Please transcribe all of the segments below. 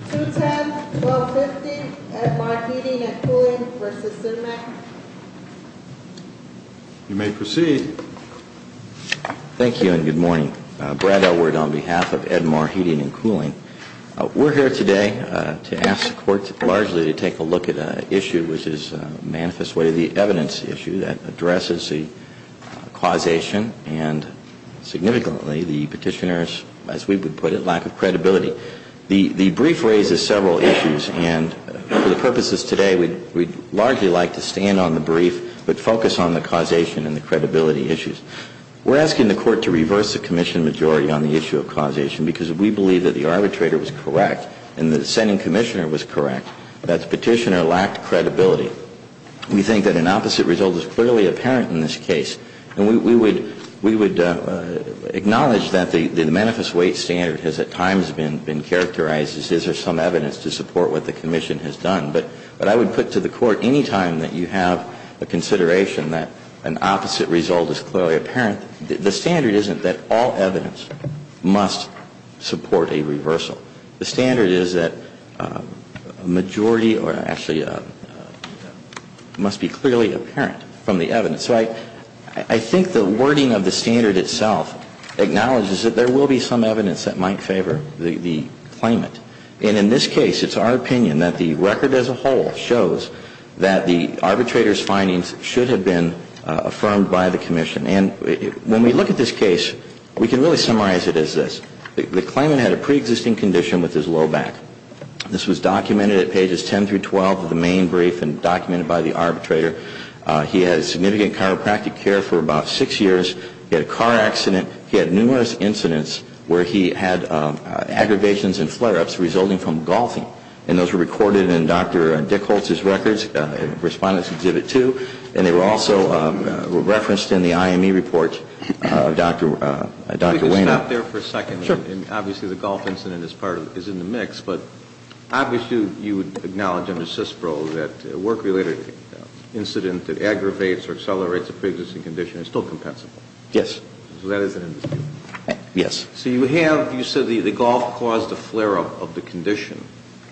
210-1250, Edmar Heating and Cooling v. Sinmec. You may proceed. Thank you and good morning. Brad Elwood on behalf of Edmar Heating and Cooling. We're here today to ask the Court largely to take a look at an issue which is manifest way of the evidence issue that addresses the causation and significantly the petitioner's, as we would put it, lack of credibility. The brief raises several issues and for the purposes today we'd largely like to stand on the brief but focus on the causation and the credibility issues. We're asking the Court to reverse the commission majority on the issue of causation because we believe that the arbitrator was correct and the sending commissioner was correct, that the petitioner lacked credibility. We think that an opposite result is clearly apparent in this case. And we would acknowledge that the manifest weight standard has at times been characterized as is there some evidence to support what the commission has done. But I would put to the Court any time that you have a consideration that an opposite result is clearly apparent, the standard isn't that all evidence must support a reversal. The standard is that a majority or actually must be clearly apparent from the evidence. So I think the wording of the standard itself acknowledges that there will be some evidence that might favor the claimant. And in this case it's our opinion that the record as a whole shows that the arbitrator's findings should have been affirmed by the commission. And when we look at this case, we can really summarize it as this. The claimant had a preexisting condition with his low back. This was documented at pages 10 through 12 of the main brief and documented by the arbitrator. He had significant chiropractic care for about six years. He had a car accident. He had numerous incidents where he had aggravations and flare-ups resulting from golfing. And those were recorded in Dr. Dickholz's records, Respondents Exhibit 2. And they were also referenced in the IME report, Dr. Wehner. If we could stop there for a second. Sure. And obviously the golf incident is in the mix. But obviously you acknowledge under CISPRO that a work-related incident that aggravates or accelerates a preexisting condition is still compensable. Yes. So that is an indisputable fact. Yes. So you have, you said the golf caused a flare-up of the condition.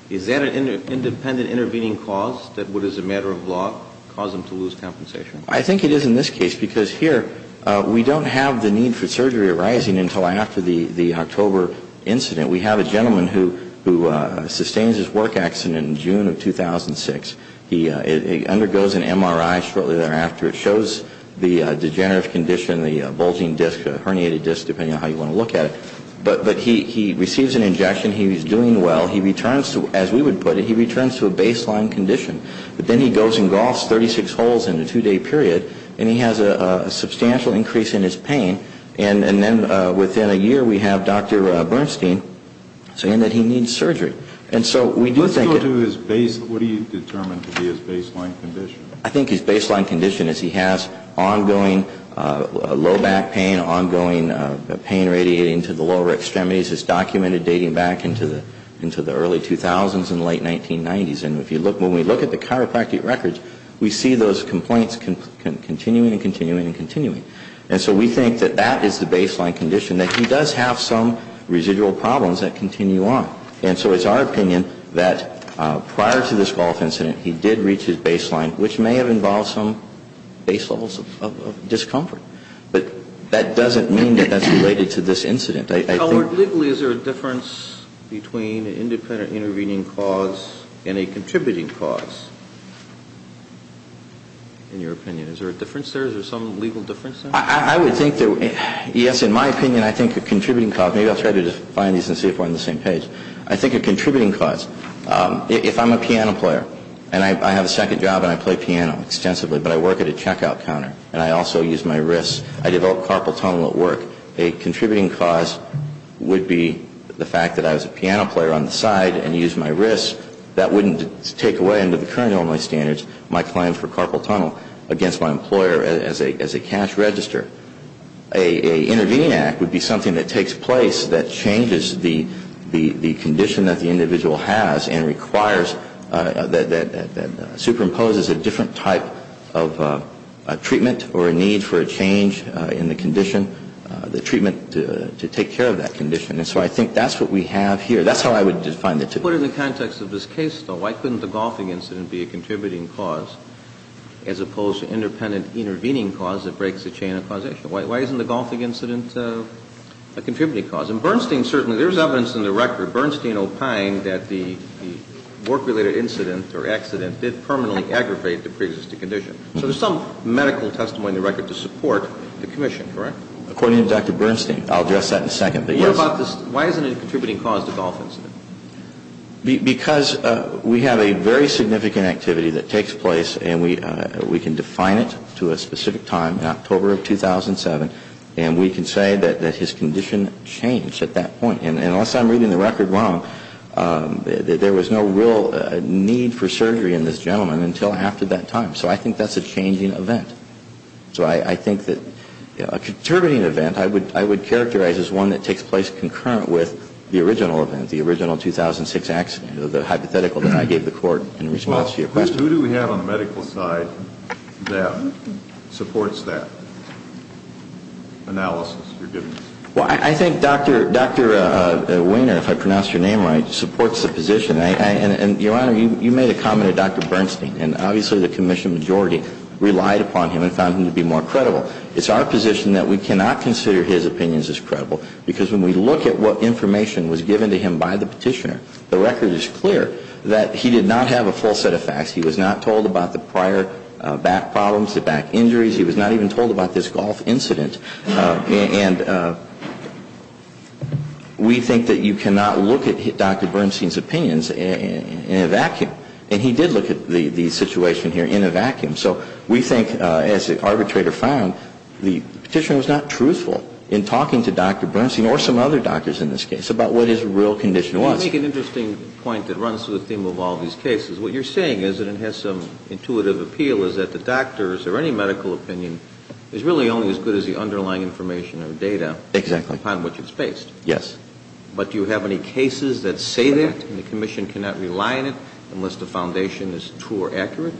Is that an independent intervening cause that would as a matter of law cause him to lose compensation? I think it is in this case because here we don't have the need for surgery arising until after the October incident. We have a gentleman who sustains his work accident in June of 2006. He undergoes an MRI shortly thereafter. It shows the degenerative condition, the bulging disc, a herniated disc, depending on how you want to look at it. But he receives an injection. He's doing well. He returns to, as we would put it, he returns to a baseline condition. But then he goes and golfs 36 holes in a two-day period. And he has a substantial increase in his pain. And then within a year we have Dr. Bernstein saying that he needs surgery. And so we do think it Let's go to his baseline. What do you determine to be his baseline condition? I think his baseline condition is he has ongoing low back pain, ongoing pain radiating to the lower extremities. It's documented dating back into the early 2000s and late 1990s. And if you look, when we look at the chiropractic records, we see those complaints continuing and continuing and continuing. And so we think that that is the baseline condition, that he does have some residual problems that continue on. And so it's our opinion that prior to this golf incident he did reach his baseline, which may have involved some base levels of discomfort. But that doesn't mean that that's related to this incident. Howard, legally is there a difference between an independent intervening cause and a contributing cause, in your opinion? Is there a difference there? Is there some legal difference there? I would think that, yes, in my opinion, I think a contributing cause, maybe I'll try to define these and see if we're on the same page. I think a contributing cause, if I'm a piano player, and I have a second job and I play piano extensively, but I work at a checkout counter, and I also use my wrists, I develop carpal tunnel at work, a contributing cause would be the fact that I was a piano player on the side and used my wrists. That wouldn't take away, under the current Illinois standards, my claim for carpal tunnel against my employer as a cash register. An intervening act would be something that takes place that changes the condition that the individual has and requires, that superimposes a different type of treatment or a need for a change in the condition, the treatment to take care of that condition. And so I think that's what we have here. That's how I would define the two. But in the context of this case, though, why couldn't the golfing incident be a contributing cause as opposed to independent intervening cause that breaks the chain of causation? Why isn't the golfing incident a contributing cause? In Bernstein, certainly, there's evidence in the record, Bernstein opined, that the work-related incident or accident did permanently aggravate the preexisting condition. So there's some medical testimony in the record to support the commission, correct? According to Dr. Bernstein. I'll address that in a second. But yes. What about this? Why isn't it a contributing cause, the golf incident? Because we have a very significant activity that takes place, and we can define it to a specific time in October of 2007, and we can say that his condition changed at that point. And unless I'm reading the record wrong, there was no real need for surgery in this gentleman until after that time. So I think that's a changing event. So I think that a contributing event I would characterize as one that takes place concurrent with the original event, the original 2006 accident, the hypothetical that I gave the Court in response to your question. Who do we have on the medical side that supports that analysis you're giving us? Well, I think Dr. Wehner, if I pronounced your name right, supports the position. And, Your Honor, you made a comment to Dr. Bernstein. And obviously the commission majority relied upon him and found him to be more credible. It's our position that we cannot consider his opinions as credible, because when we look at what information was given to him by the petitioner, the record is clear that he did not have a full set of facts. He was not told about the prior back problems, the back injuries. He was not even told about this golf incident. And we think that you cannot look at Dr. Bernstein's opinions in a vacuum. And he did look at the situation here in a vacuum. So we think, as the arbitrator found, the petitioner was not truthful in talking to Dr. Bernstein or some other doctors in this case about what his real condition was. Let me make an interesting point that runs through the theme of all these cases. What you're saying is, and it has some intuitive appeal, is that the doctors or any medical opinion is really only as good as the underlying information or data. Exactly. Upon which it's based. Yes. But do you have any cases that say that and the commission cannot rely on it unless the foundation is true or accurate?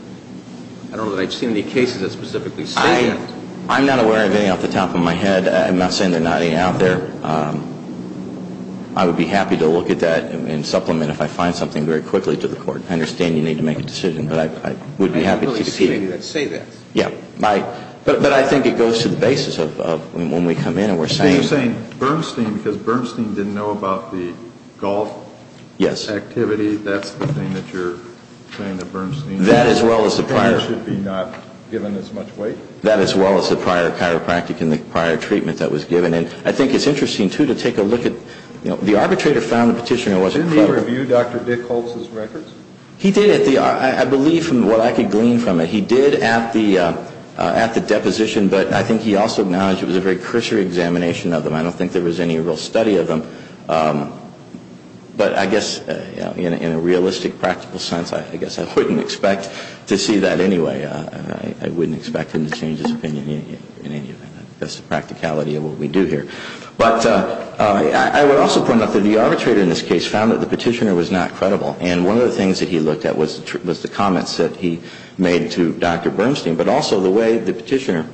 I don't know that I've seen any cases that specifically say that. I'm not aware of any off the top of my head. I'm not saying there's not any out there. I would be happy to look at that and supplement, if I find something, very quickly to the court. I understand you need to make a decision. But I would be happy to see it. Say that. Yeah. But I think it goes to the basis of when we come in and we're saying. You're saying Bernstein, because Bernstein didn't know about the golf activity. That's the thing that you're saying that Bernstein. That as well as the prior. Should be not given as much weight. That as well as the prior chiropractic and the prior treatment that was given. And I think it's interesting, too, to take a look at. The arbitrator found the petitioner wasn't clever. Did he review Dr. Dick Holtz's records? He did. I believe from what I could glean from it. He did at the deposition. But I think he also acknowledged it was a very cursory examination of them. I don't think there was any real study of them. But I guess in a realistic, practical sense, I guess I wouldn't expect to see that anyway. I wouldn't expect him to change his opinion in any event. That's the practicality of what we do here. But I would also point out that the arbitrator in this case found that the petitioner was not credible. And one of the things that he looked at was the comments that he made to Dr. Bernstein, but also the way the petitioner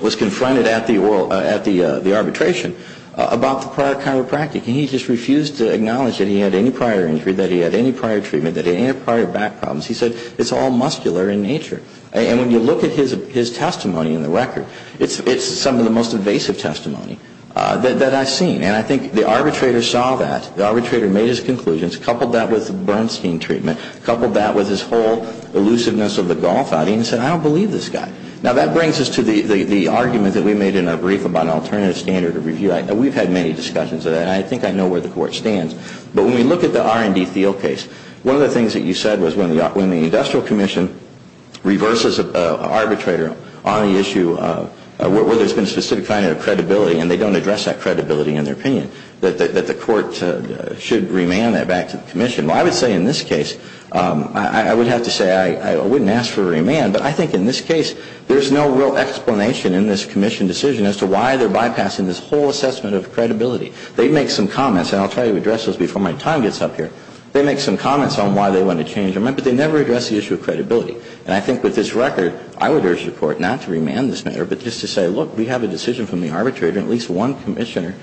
was confronted at the arbitration about the prior chiropractic. And he just refused to acknowledge that he had any prior injury, that he had any prior treatment, that he had any prior back problems. He said it's all muscular in nature. And when you look at his testimony in the record, it's some of the most evasive testimony that I've seen. And I think the arbitrator saw that. The arbitrator made his conclusions, coupled that with Bernstein treatment, coupled that with his whole elusiveness of the golf outing, and said, I don't believe this guy. Now, that brings us to the argument that we made in our brief about an alternative standard of review. We've had many discussions of that, and I think I know where the Court stands. But when we look at the R&D Thiel case, one of the things that you said was when the Industrial Commission reverses an arbitrator on the issue where there's been a specific kind of credibility, and they don't address that credibility in their opinion, that the Court should remand that back to the Commission. Well, I would say in this case, I would have to say I wouldn't ask for a remand, but I think in this case there's no real explanation in this Commission decision as to why they're bypassing this whole assessment of credibility. They make some comments, and I'll try to address those before my time gets up here. They make some comments on why they want to change. Remember, they never address the issue of credibility. And I think with this record, I would urge the Court not to remand this matter, but just to say, look, we have a decision from the arbitrator, and at least one Commissioner,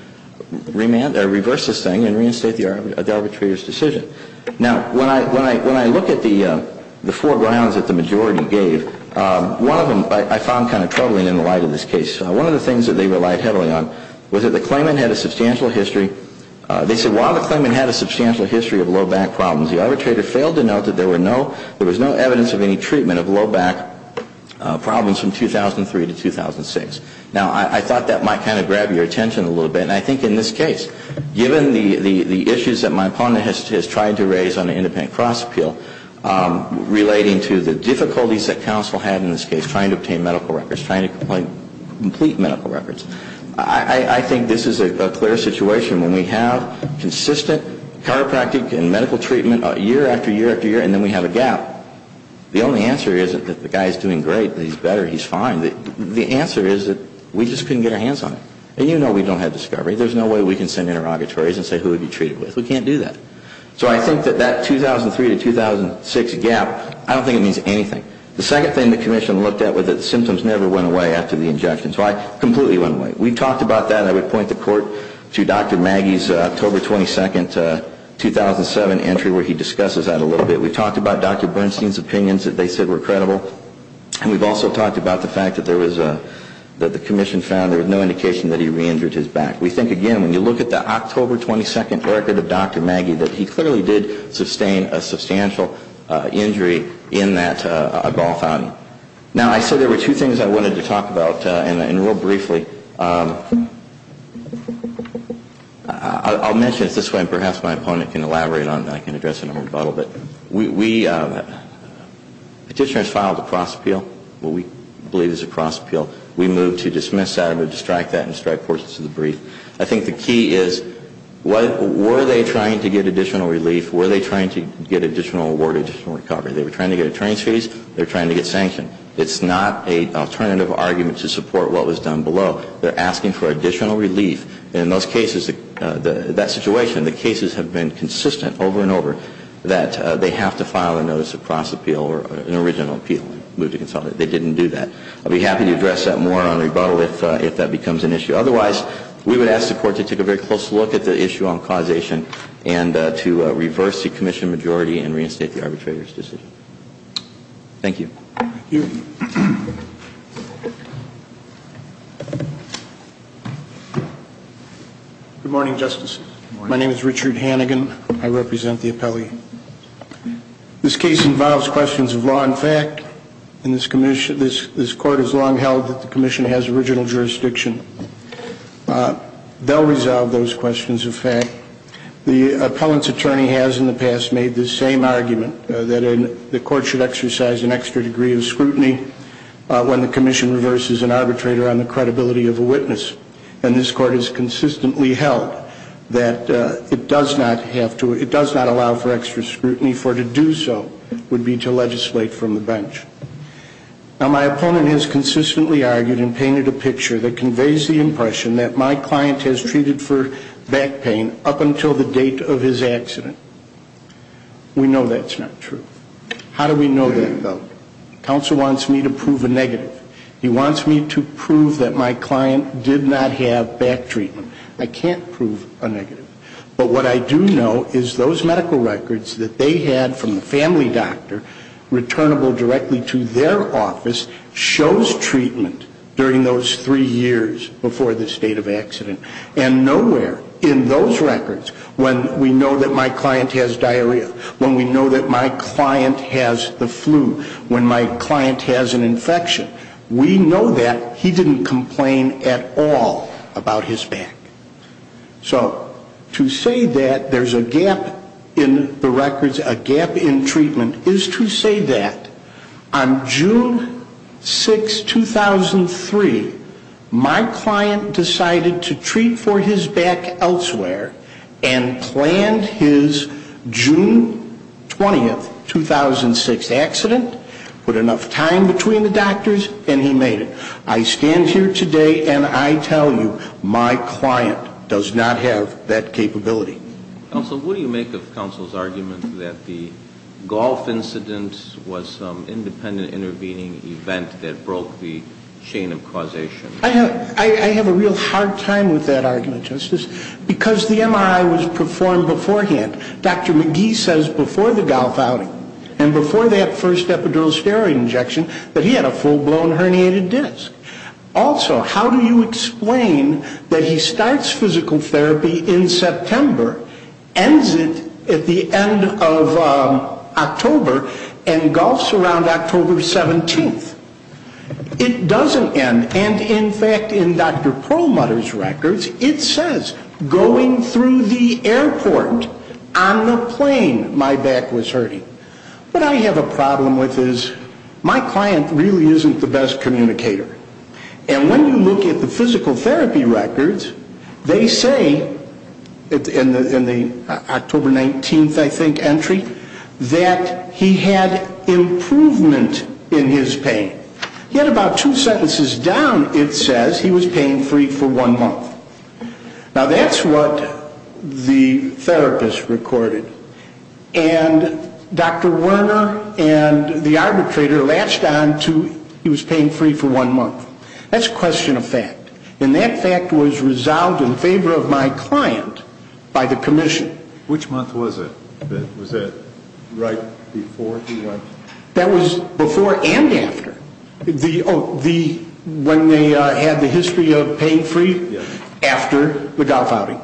reverse this thing and reinstate the arbitrator's decision. Now, when I look at the four grounds that the majority gave, one of them I found kind of troubling in the light of this case. One of the things that they relied heavily on was that the claimant had a substantial history. They said while the claimant had a substantial history of low back problems, the arbitrator failed to note that there was no evidence of any treatment of low back problems from 2003 to 2006. Now, I thought that might kind of grab your attention a little bit, and I think in this case, given the issues that my opponent has tried to raise on an independent cross appeal, relating to the difficulties that counsel had in this case, trying to obtain medical records, trying to complete medical records, I think this is a clear situation. When we have consistent chiropractic and medical treatment year after year after year, and then we have a gap, the only answer isn't that the guy is doing great, he's better, he's fine. The answer is that we just couldn't get our hands on it. And you know we don't have discovery. There's no way we can send interrogatories and say who have you treated with. We can't do that. So I think that that 2003 to 2006 gap, I don't think it means anything. The second thing the commission looked at was that the symptoms never went away after the injections. Why? Completely went away. We talked about that. I would point the court to Dr. Maggie's October 22, 2007 entry where he discusses that a little bit. We talked about Dr. Bernstein's opinions that they said were credible, and we've also talked about the fact that the commission found there was no indication that he re-injured his back. We think, again, when you look at the October 22 record of Dr. Maggie, that he clearly did sustain a substantial injury in that golf outing. Now, I said there were two things I wanted to talk about, and real briefly. I'll mention it this way, and perhaps my opponent can elaborate on it, and I can address it in a rebuttal. But we petitioners filed a cross appeal, what we believe is a cross appeal. We moved to dismiss that, or to strike that, and strike portions of the brief. I think the key is were they trying to get additional relief? Were they trying to get additional award, additional recovery? They were trying to get attorney's fees. They were trying to get sanctioned. It's not an alternative argument to support what was done below. They're asking for additional relief. In those cases, that situation, the cases have been consistent over and over that they have to file a notice of cross appeal or an original appeal. We moved to consult it. They didn't do that. I'll be happy to address that more on rebuttal if that becomes an issue. Otherwise, we would ask the court to take a very close look at the issue on causation and to reverse the commission majority and reinstate the arbitrator's decision. Thank you. Thank you. Good morning, Justice. My name is Richard Hannigan. I represent the appellee. This case involves questions of law and fact, and this court has long held that the commission has original jurisdiction. They'll resolve those questions of fact. The appellant's attorney has in the past made the same argument that the court should exercise an extra degree of scrutiny when the commission reverses an arbitrator on the credibility of a witness, and this court has consistently held that it does not allow for extra scrutiny, and that the appropriate scrutiny for it to do so would be to legislate from the bench. Now, my opponent has consistently argued and painted a picture that conveys the impression that my client has treated for back pain up until the date of his accident. We know that's not true. How do we know that, though? Counsel wants me to prove a negative. He wants me to prove that my client did not have back treatment. I can't prove a negative. But what I do know is those medical records that they had from the family doctor, returnable directly to their office, shows treatment during those three years before the state of accident, and nowhere in those records when we know that my client has diarrhea, when we know that my client has the flu, when my client has an infection, we know that he didn't complain at all about his back. So to say that there's a gap in the records, a gap in treatment, is to say that on June 6, 2003, my client decided to treat for his back elsewhere and planned his June 20, 2006 accident, put enough time between the doctors, and he made it. I stand here today and I tell you, my client does not have that capability. Counsel, what do you make of counsel's argument that the golf incident was some independent intervening event that broke the chain of causation? I have a real hard time with that argument, Justice, because the MRI was performed beforehand. Dr. McGee says before the golf outing and before that first epidural steroid injection that he had a full-blown herniated disc. Also, how do you explain that he starts physical therapy in September, ends it at the end of October, and golfs around October 17th? It doesn't end, and in fact, in Dr. Perlmutter's records, it says, going through the airport on the plane, my back was hurting. What I have a problem with is my client really isn't the best communicator. And when you look at the physical therapy records, they say, in the October 19th, I think, entry, that he had improvement in his pain. Yet about two sentences down, it says he was pain-free for one month. Now, that's what the therapist recorded. And Dr. Werner and the arbitrator latched on to he was pain-free for one month. That's a question of fact. And that fact was resolved in favor of my client by the commission. Which month was it? Was that right before he went? That was before and after. When they had the history of pain-free, after the golf outing.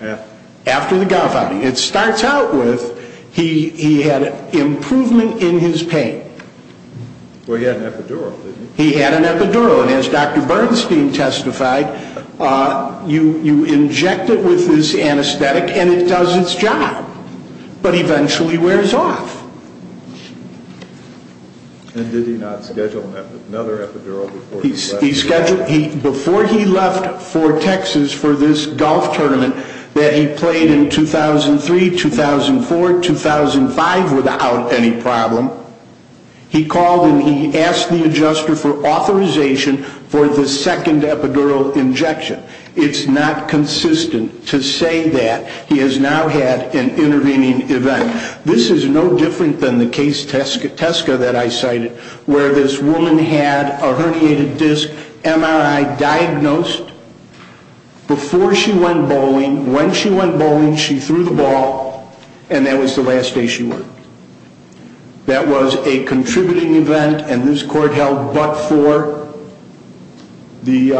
After? After the golf outing. It starts out with he had improvement in his pain. Well, he had an epidural, didn't he? He had an epidural. And as Dr. Bernstein testified, you inject it with this anesthetic and it does its job. But eventually wears off. And did he not schedule another epidural before he left? Before he left for Texas for this golf tournament that he played in 2003, 2004, 2005 without any problem, he called and he asked the adjuster for authorization for the second epidural injection. It's not consistent to say that. He has now had an intervening event. This is no different than the case Tesca that I cited where this woman had a herniated disc MRI diagnosed before she went bowling. When she went bowling, she threw the ball and that was the last day she worked. That was a contributing event and this court held but for the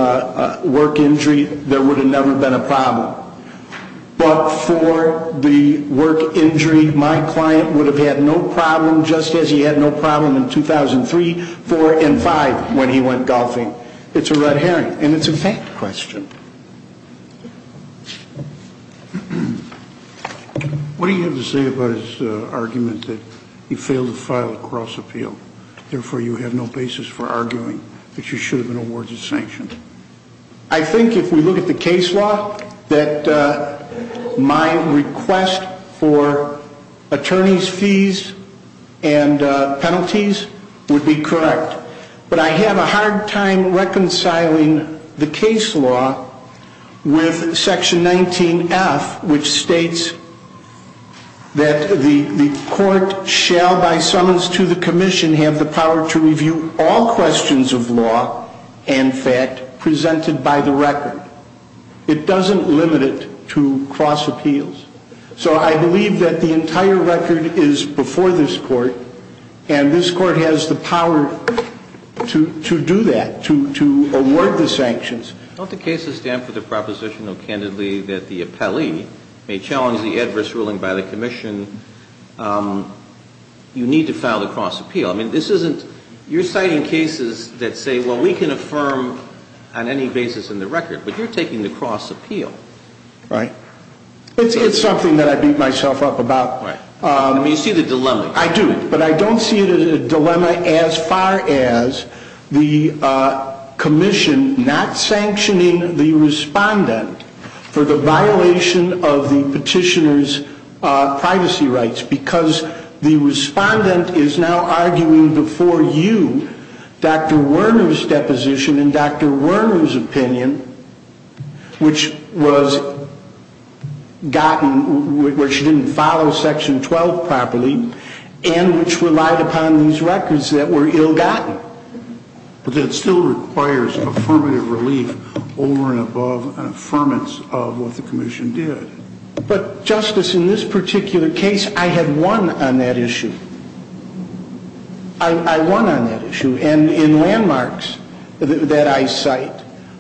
work injury. There would have never been a problem. But for the work injury, my client would have had no problem just as he had no problem in 2003, 2004, and 2005 when he went golfing. It's a red herring and it's a fact question. What do you have to say about his argument that he failed to file a cross appeal? Therefore, you have no basis for arguing that you should have been awarded sanctions. I think if we look at the case law that my request for attorney's fees and penalties would be correct. But I have a hard time reconciling the case law with section 19F which states that the court shall by summons to the commission have the power to review all questions of law and fact presented by the record. It doesn't limit it to cross appeals. So I believe that the entire record is before this court and this court has the power to do that, to award the sanctions. Don't the cases stand for the proposition of candidly that the appellee may challenge the adverse ruling by the commission? You need to file the cross appeal. I mean this isn't you're citing cases that say well we can affirm on any basis in the record but you're taking the cross appeal. Right. It's something that I beat myself up about. Right. I mean you see the dilemma. I do. But I don't see it as a dilemma as far as the commission not sanctioning the respondent for the violation of the petitioner's privacy rights. Because the respondent is now arguing before you Dr. Werner's deposition and Dr. Werner's opinion which was gotten where she didn't follow section 12 properly and which relied upon these records that were ill gotten. But that still requires affirmative relief over and above an affirmance of what the commission did. But Justice in this particular case I had won on that issue. I won on that issue. And in landmarks that I cite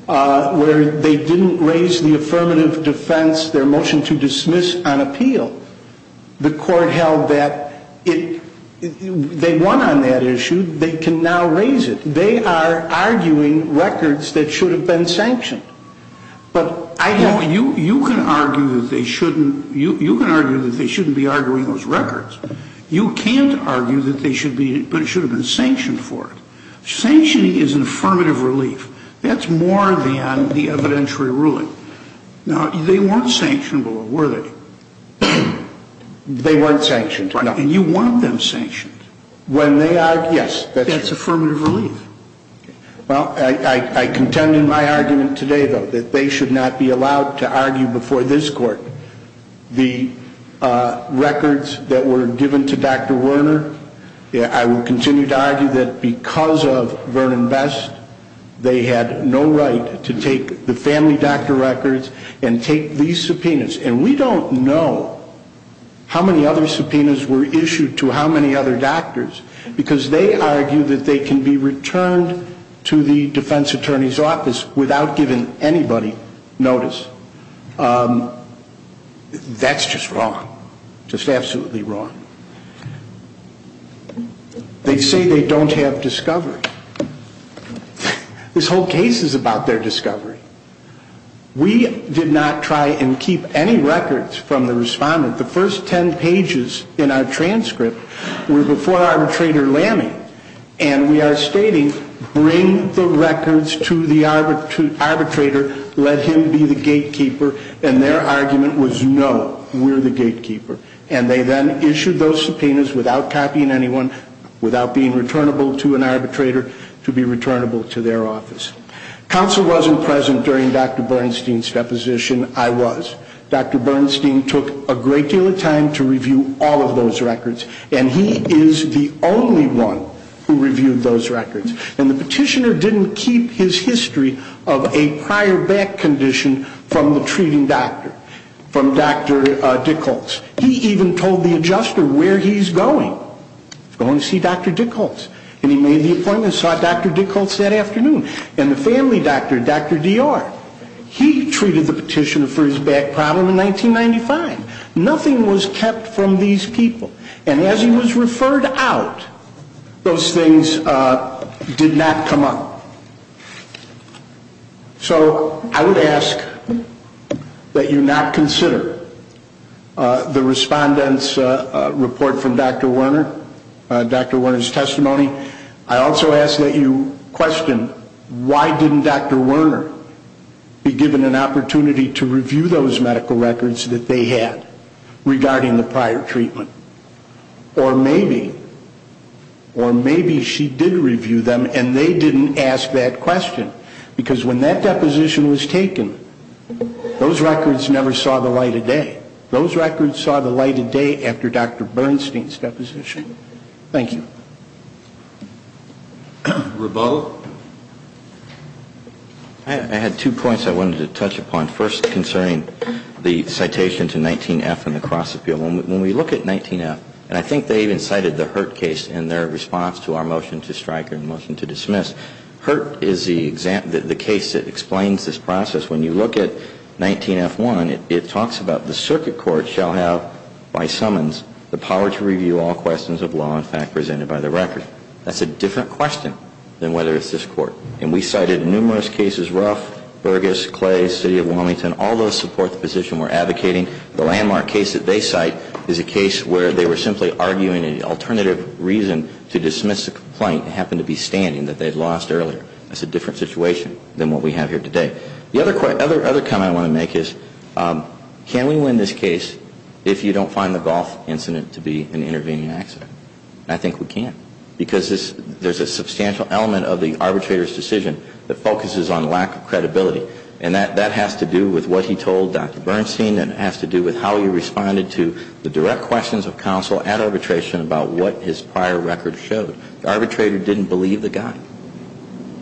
where they didn't raise the affirmative defense, their motion to dismiss on appeal, the court held that they won on that issue. They can now raise it. They are arguing records that should have been sanctioned. You can argue that they shouldn't be arguing those records. You can't argue that they should have been sanctioned for it. Sanctioning is an affirmative relief. That's more than the evidentiary ruling. Now, they weren't sanctionable, were they? They weren't sanctioned. And you want them sanctioned. When they are, yes. That's affirmative relief. Well, I contend in my argument today, though, that they should not be allowed to argue before this court the records that were given to Dr. Werner. I will continue to argue that because of Vernon Best, they had no right to take the family doctor records and take these subpoenas. And we don't know how many other subpoenas were issued to how many other doctors because they argue that they can be returned to the defense attorney's office without giving anybody notice. That's just wrong. Just absolutely wrong. They say they don't have discovery. This whole case is about their discovery. We did not try and keep any records from the respondent. The first 10 pages in our transcript were before Arbitrator Lammy. And we are stating, bring the records to the arbitrator, let him be the gatekeeper. And their argument was, no, we're the gatekeeper. And they then issued those subpoenas without copying anyone, without being returnable to an arbitrator, to be returnable to their office. Counsel wasn't present during Dr. Bernstein's deposition. I was. Dr. Bernstein took a great deal of time to review all of those records. And he is the only one who reviewed those records. And the petitioner didn't keep his history of a prior back condition from the treating doctor, from Dr. Dickholz. He even told the adjuster where he's going. He's going to see Dr. Dickholz. And he made the appointment and saw Dr. Dickholz that afternoon. And the family doctor, Dr. Dior, he treated the petitioner for his back problem in 1995. Nothing was kept from these people. And as he was referred out, those things did not come up. So I would ask that you not consider the respondent's report from Dr. Werner, Dr. Werner's testimony. I also ask that you question, why didn't Dr. Werner be given an opportunity to review those medical records that they had regarding the prior treatment? Or maybe, or maybe she did review them and they didn't ask that question. Because when that deposition was taken, those records never saw the light of day. Those records saw the light of day after Dr. Bernstein's deposition. Thank you. Rebo? I had two points I wanted to touch upon. First, concerning the citation to 19F in the Cross Appeal. When we look at 19F, and I think they even cited the Hurt case in their response to our motion to strike and motion to dismiss. Hurt is the case that explains this process. When you look at 19F1, it talks about the circuit court shall have by summons the power to review all questions of law and fact presented by the record. That's a different question than whether it's this court. And we cited numerous cases, Ruff, Burgess, Clay, City of Wilmington. All those support the position we're advocating. The landmark case that they cite is a case where they were simply arguing an alternative reason to dismiss the complaint. It happened to be standing that they'd lost earlier. That's a different situation than what we have here today. The other comment I want to make is, can we win this case if you don't find the golf incident to be an intervening accident? I think we can. Because there's a substantial element of the arbitrator's decision that focuses on lack of credibility. And that has to do with what he told Dr. Bernstein. And it has to do with how he responded to the direct questions of counsel at arbitration about what his prior record showed. The arbitrator didn't believe the guy.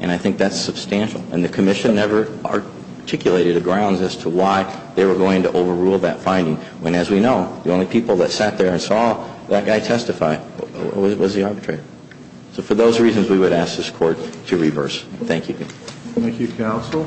And I think that's substantial. And the commission never articulated a grounds as to why they were going to overrule that finding. When, as we know, the only people that sat there and saw that guy testify was the arbitrator. So for those reasons, we would ask this court to reverse. Thank you. Thank you, counsel.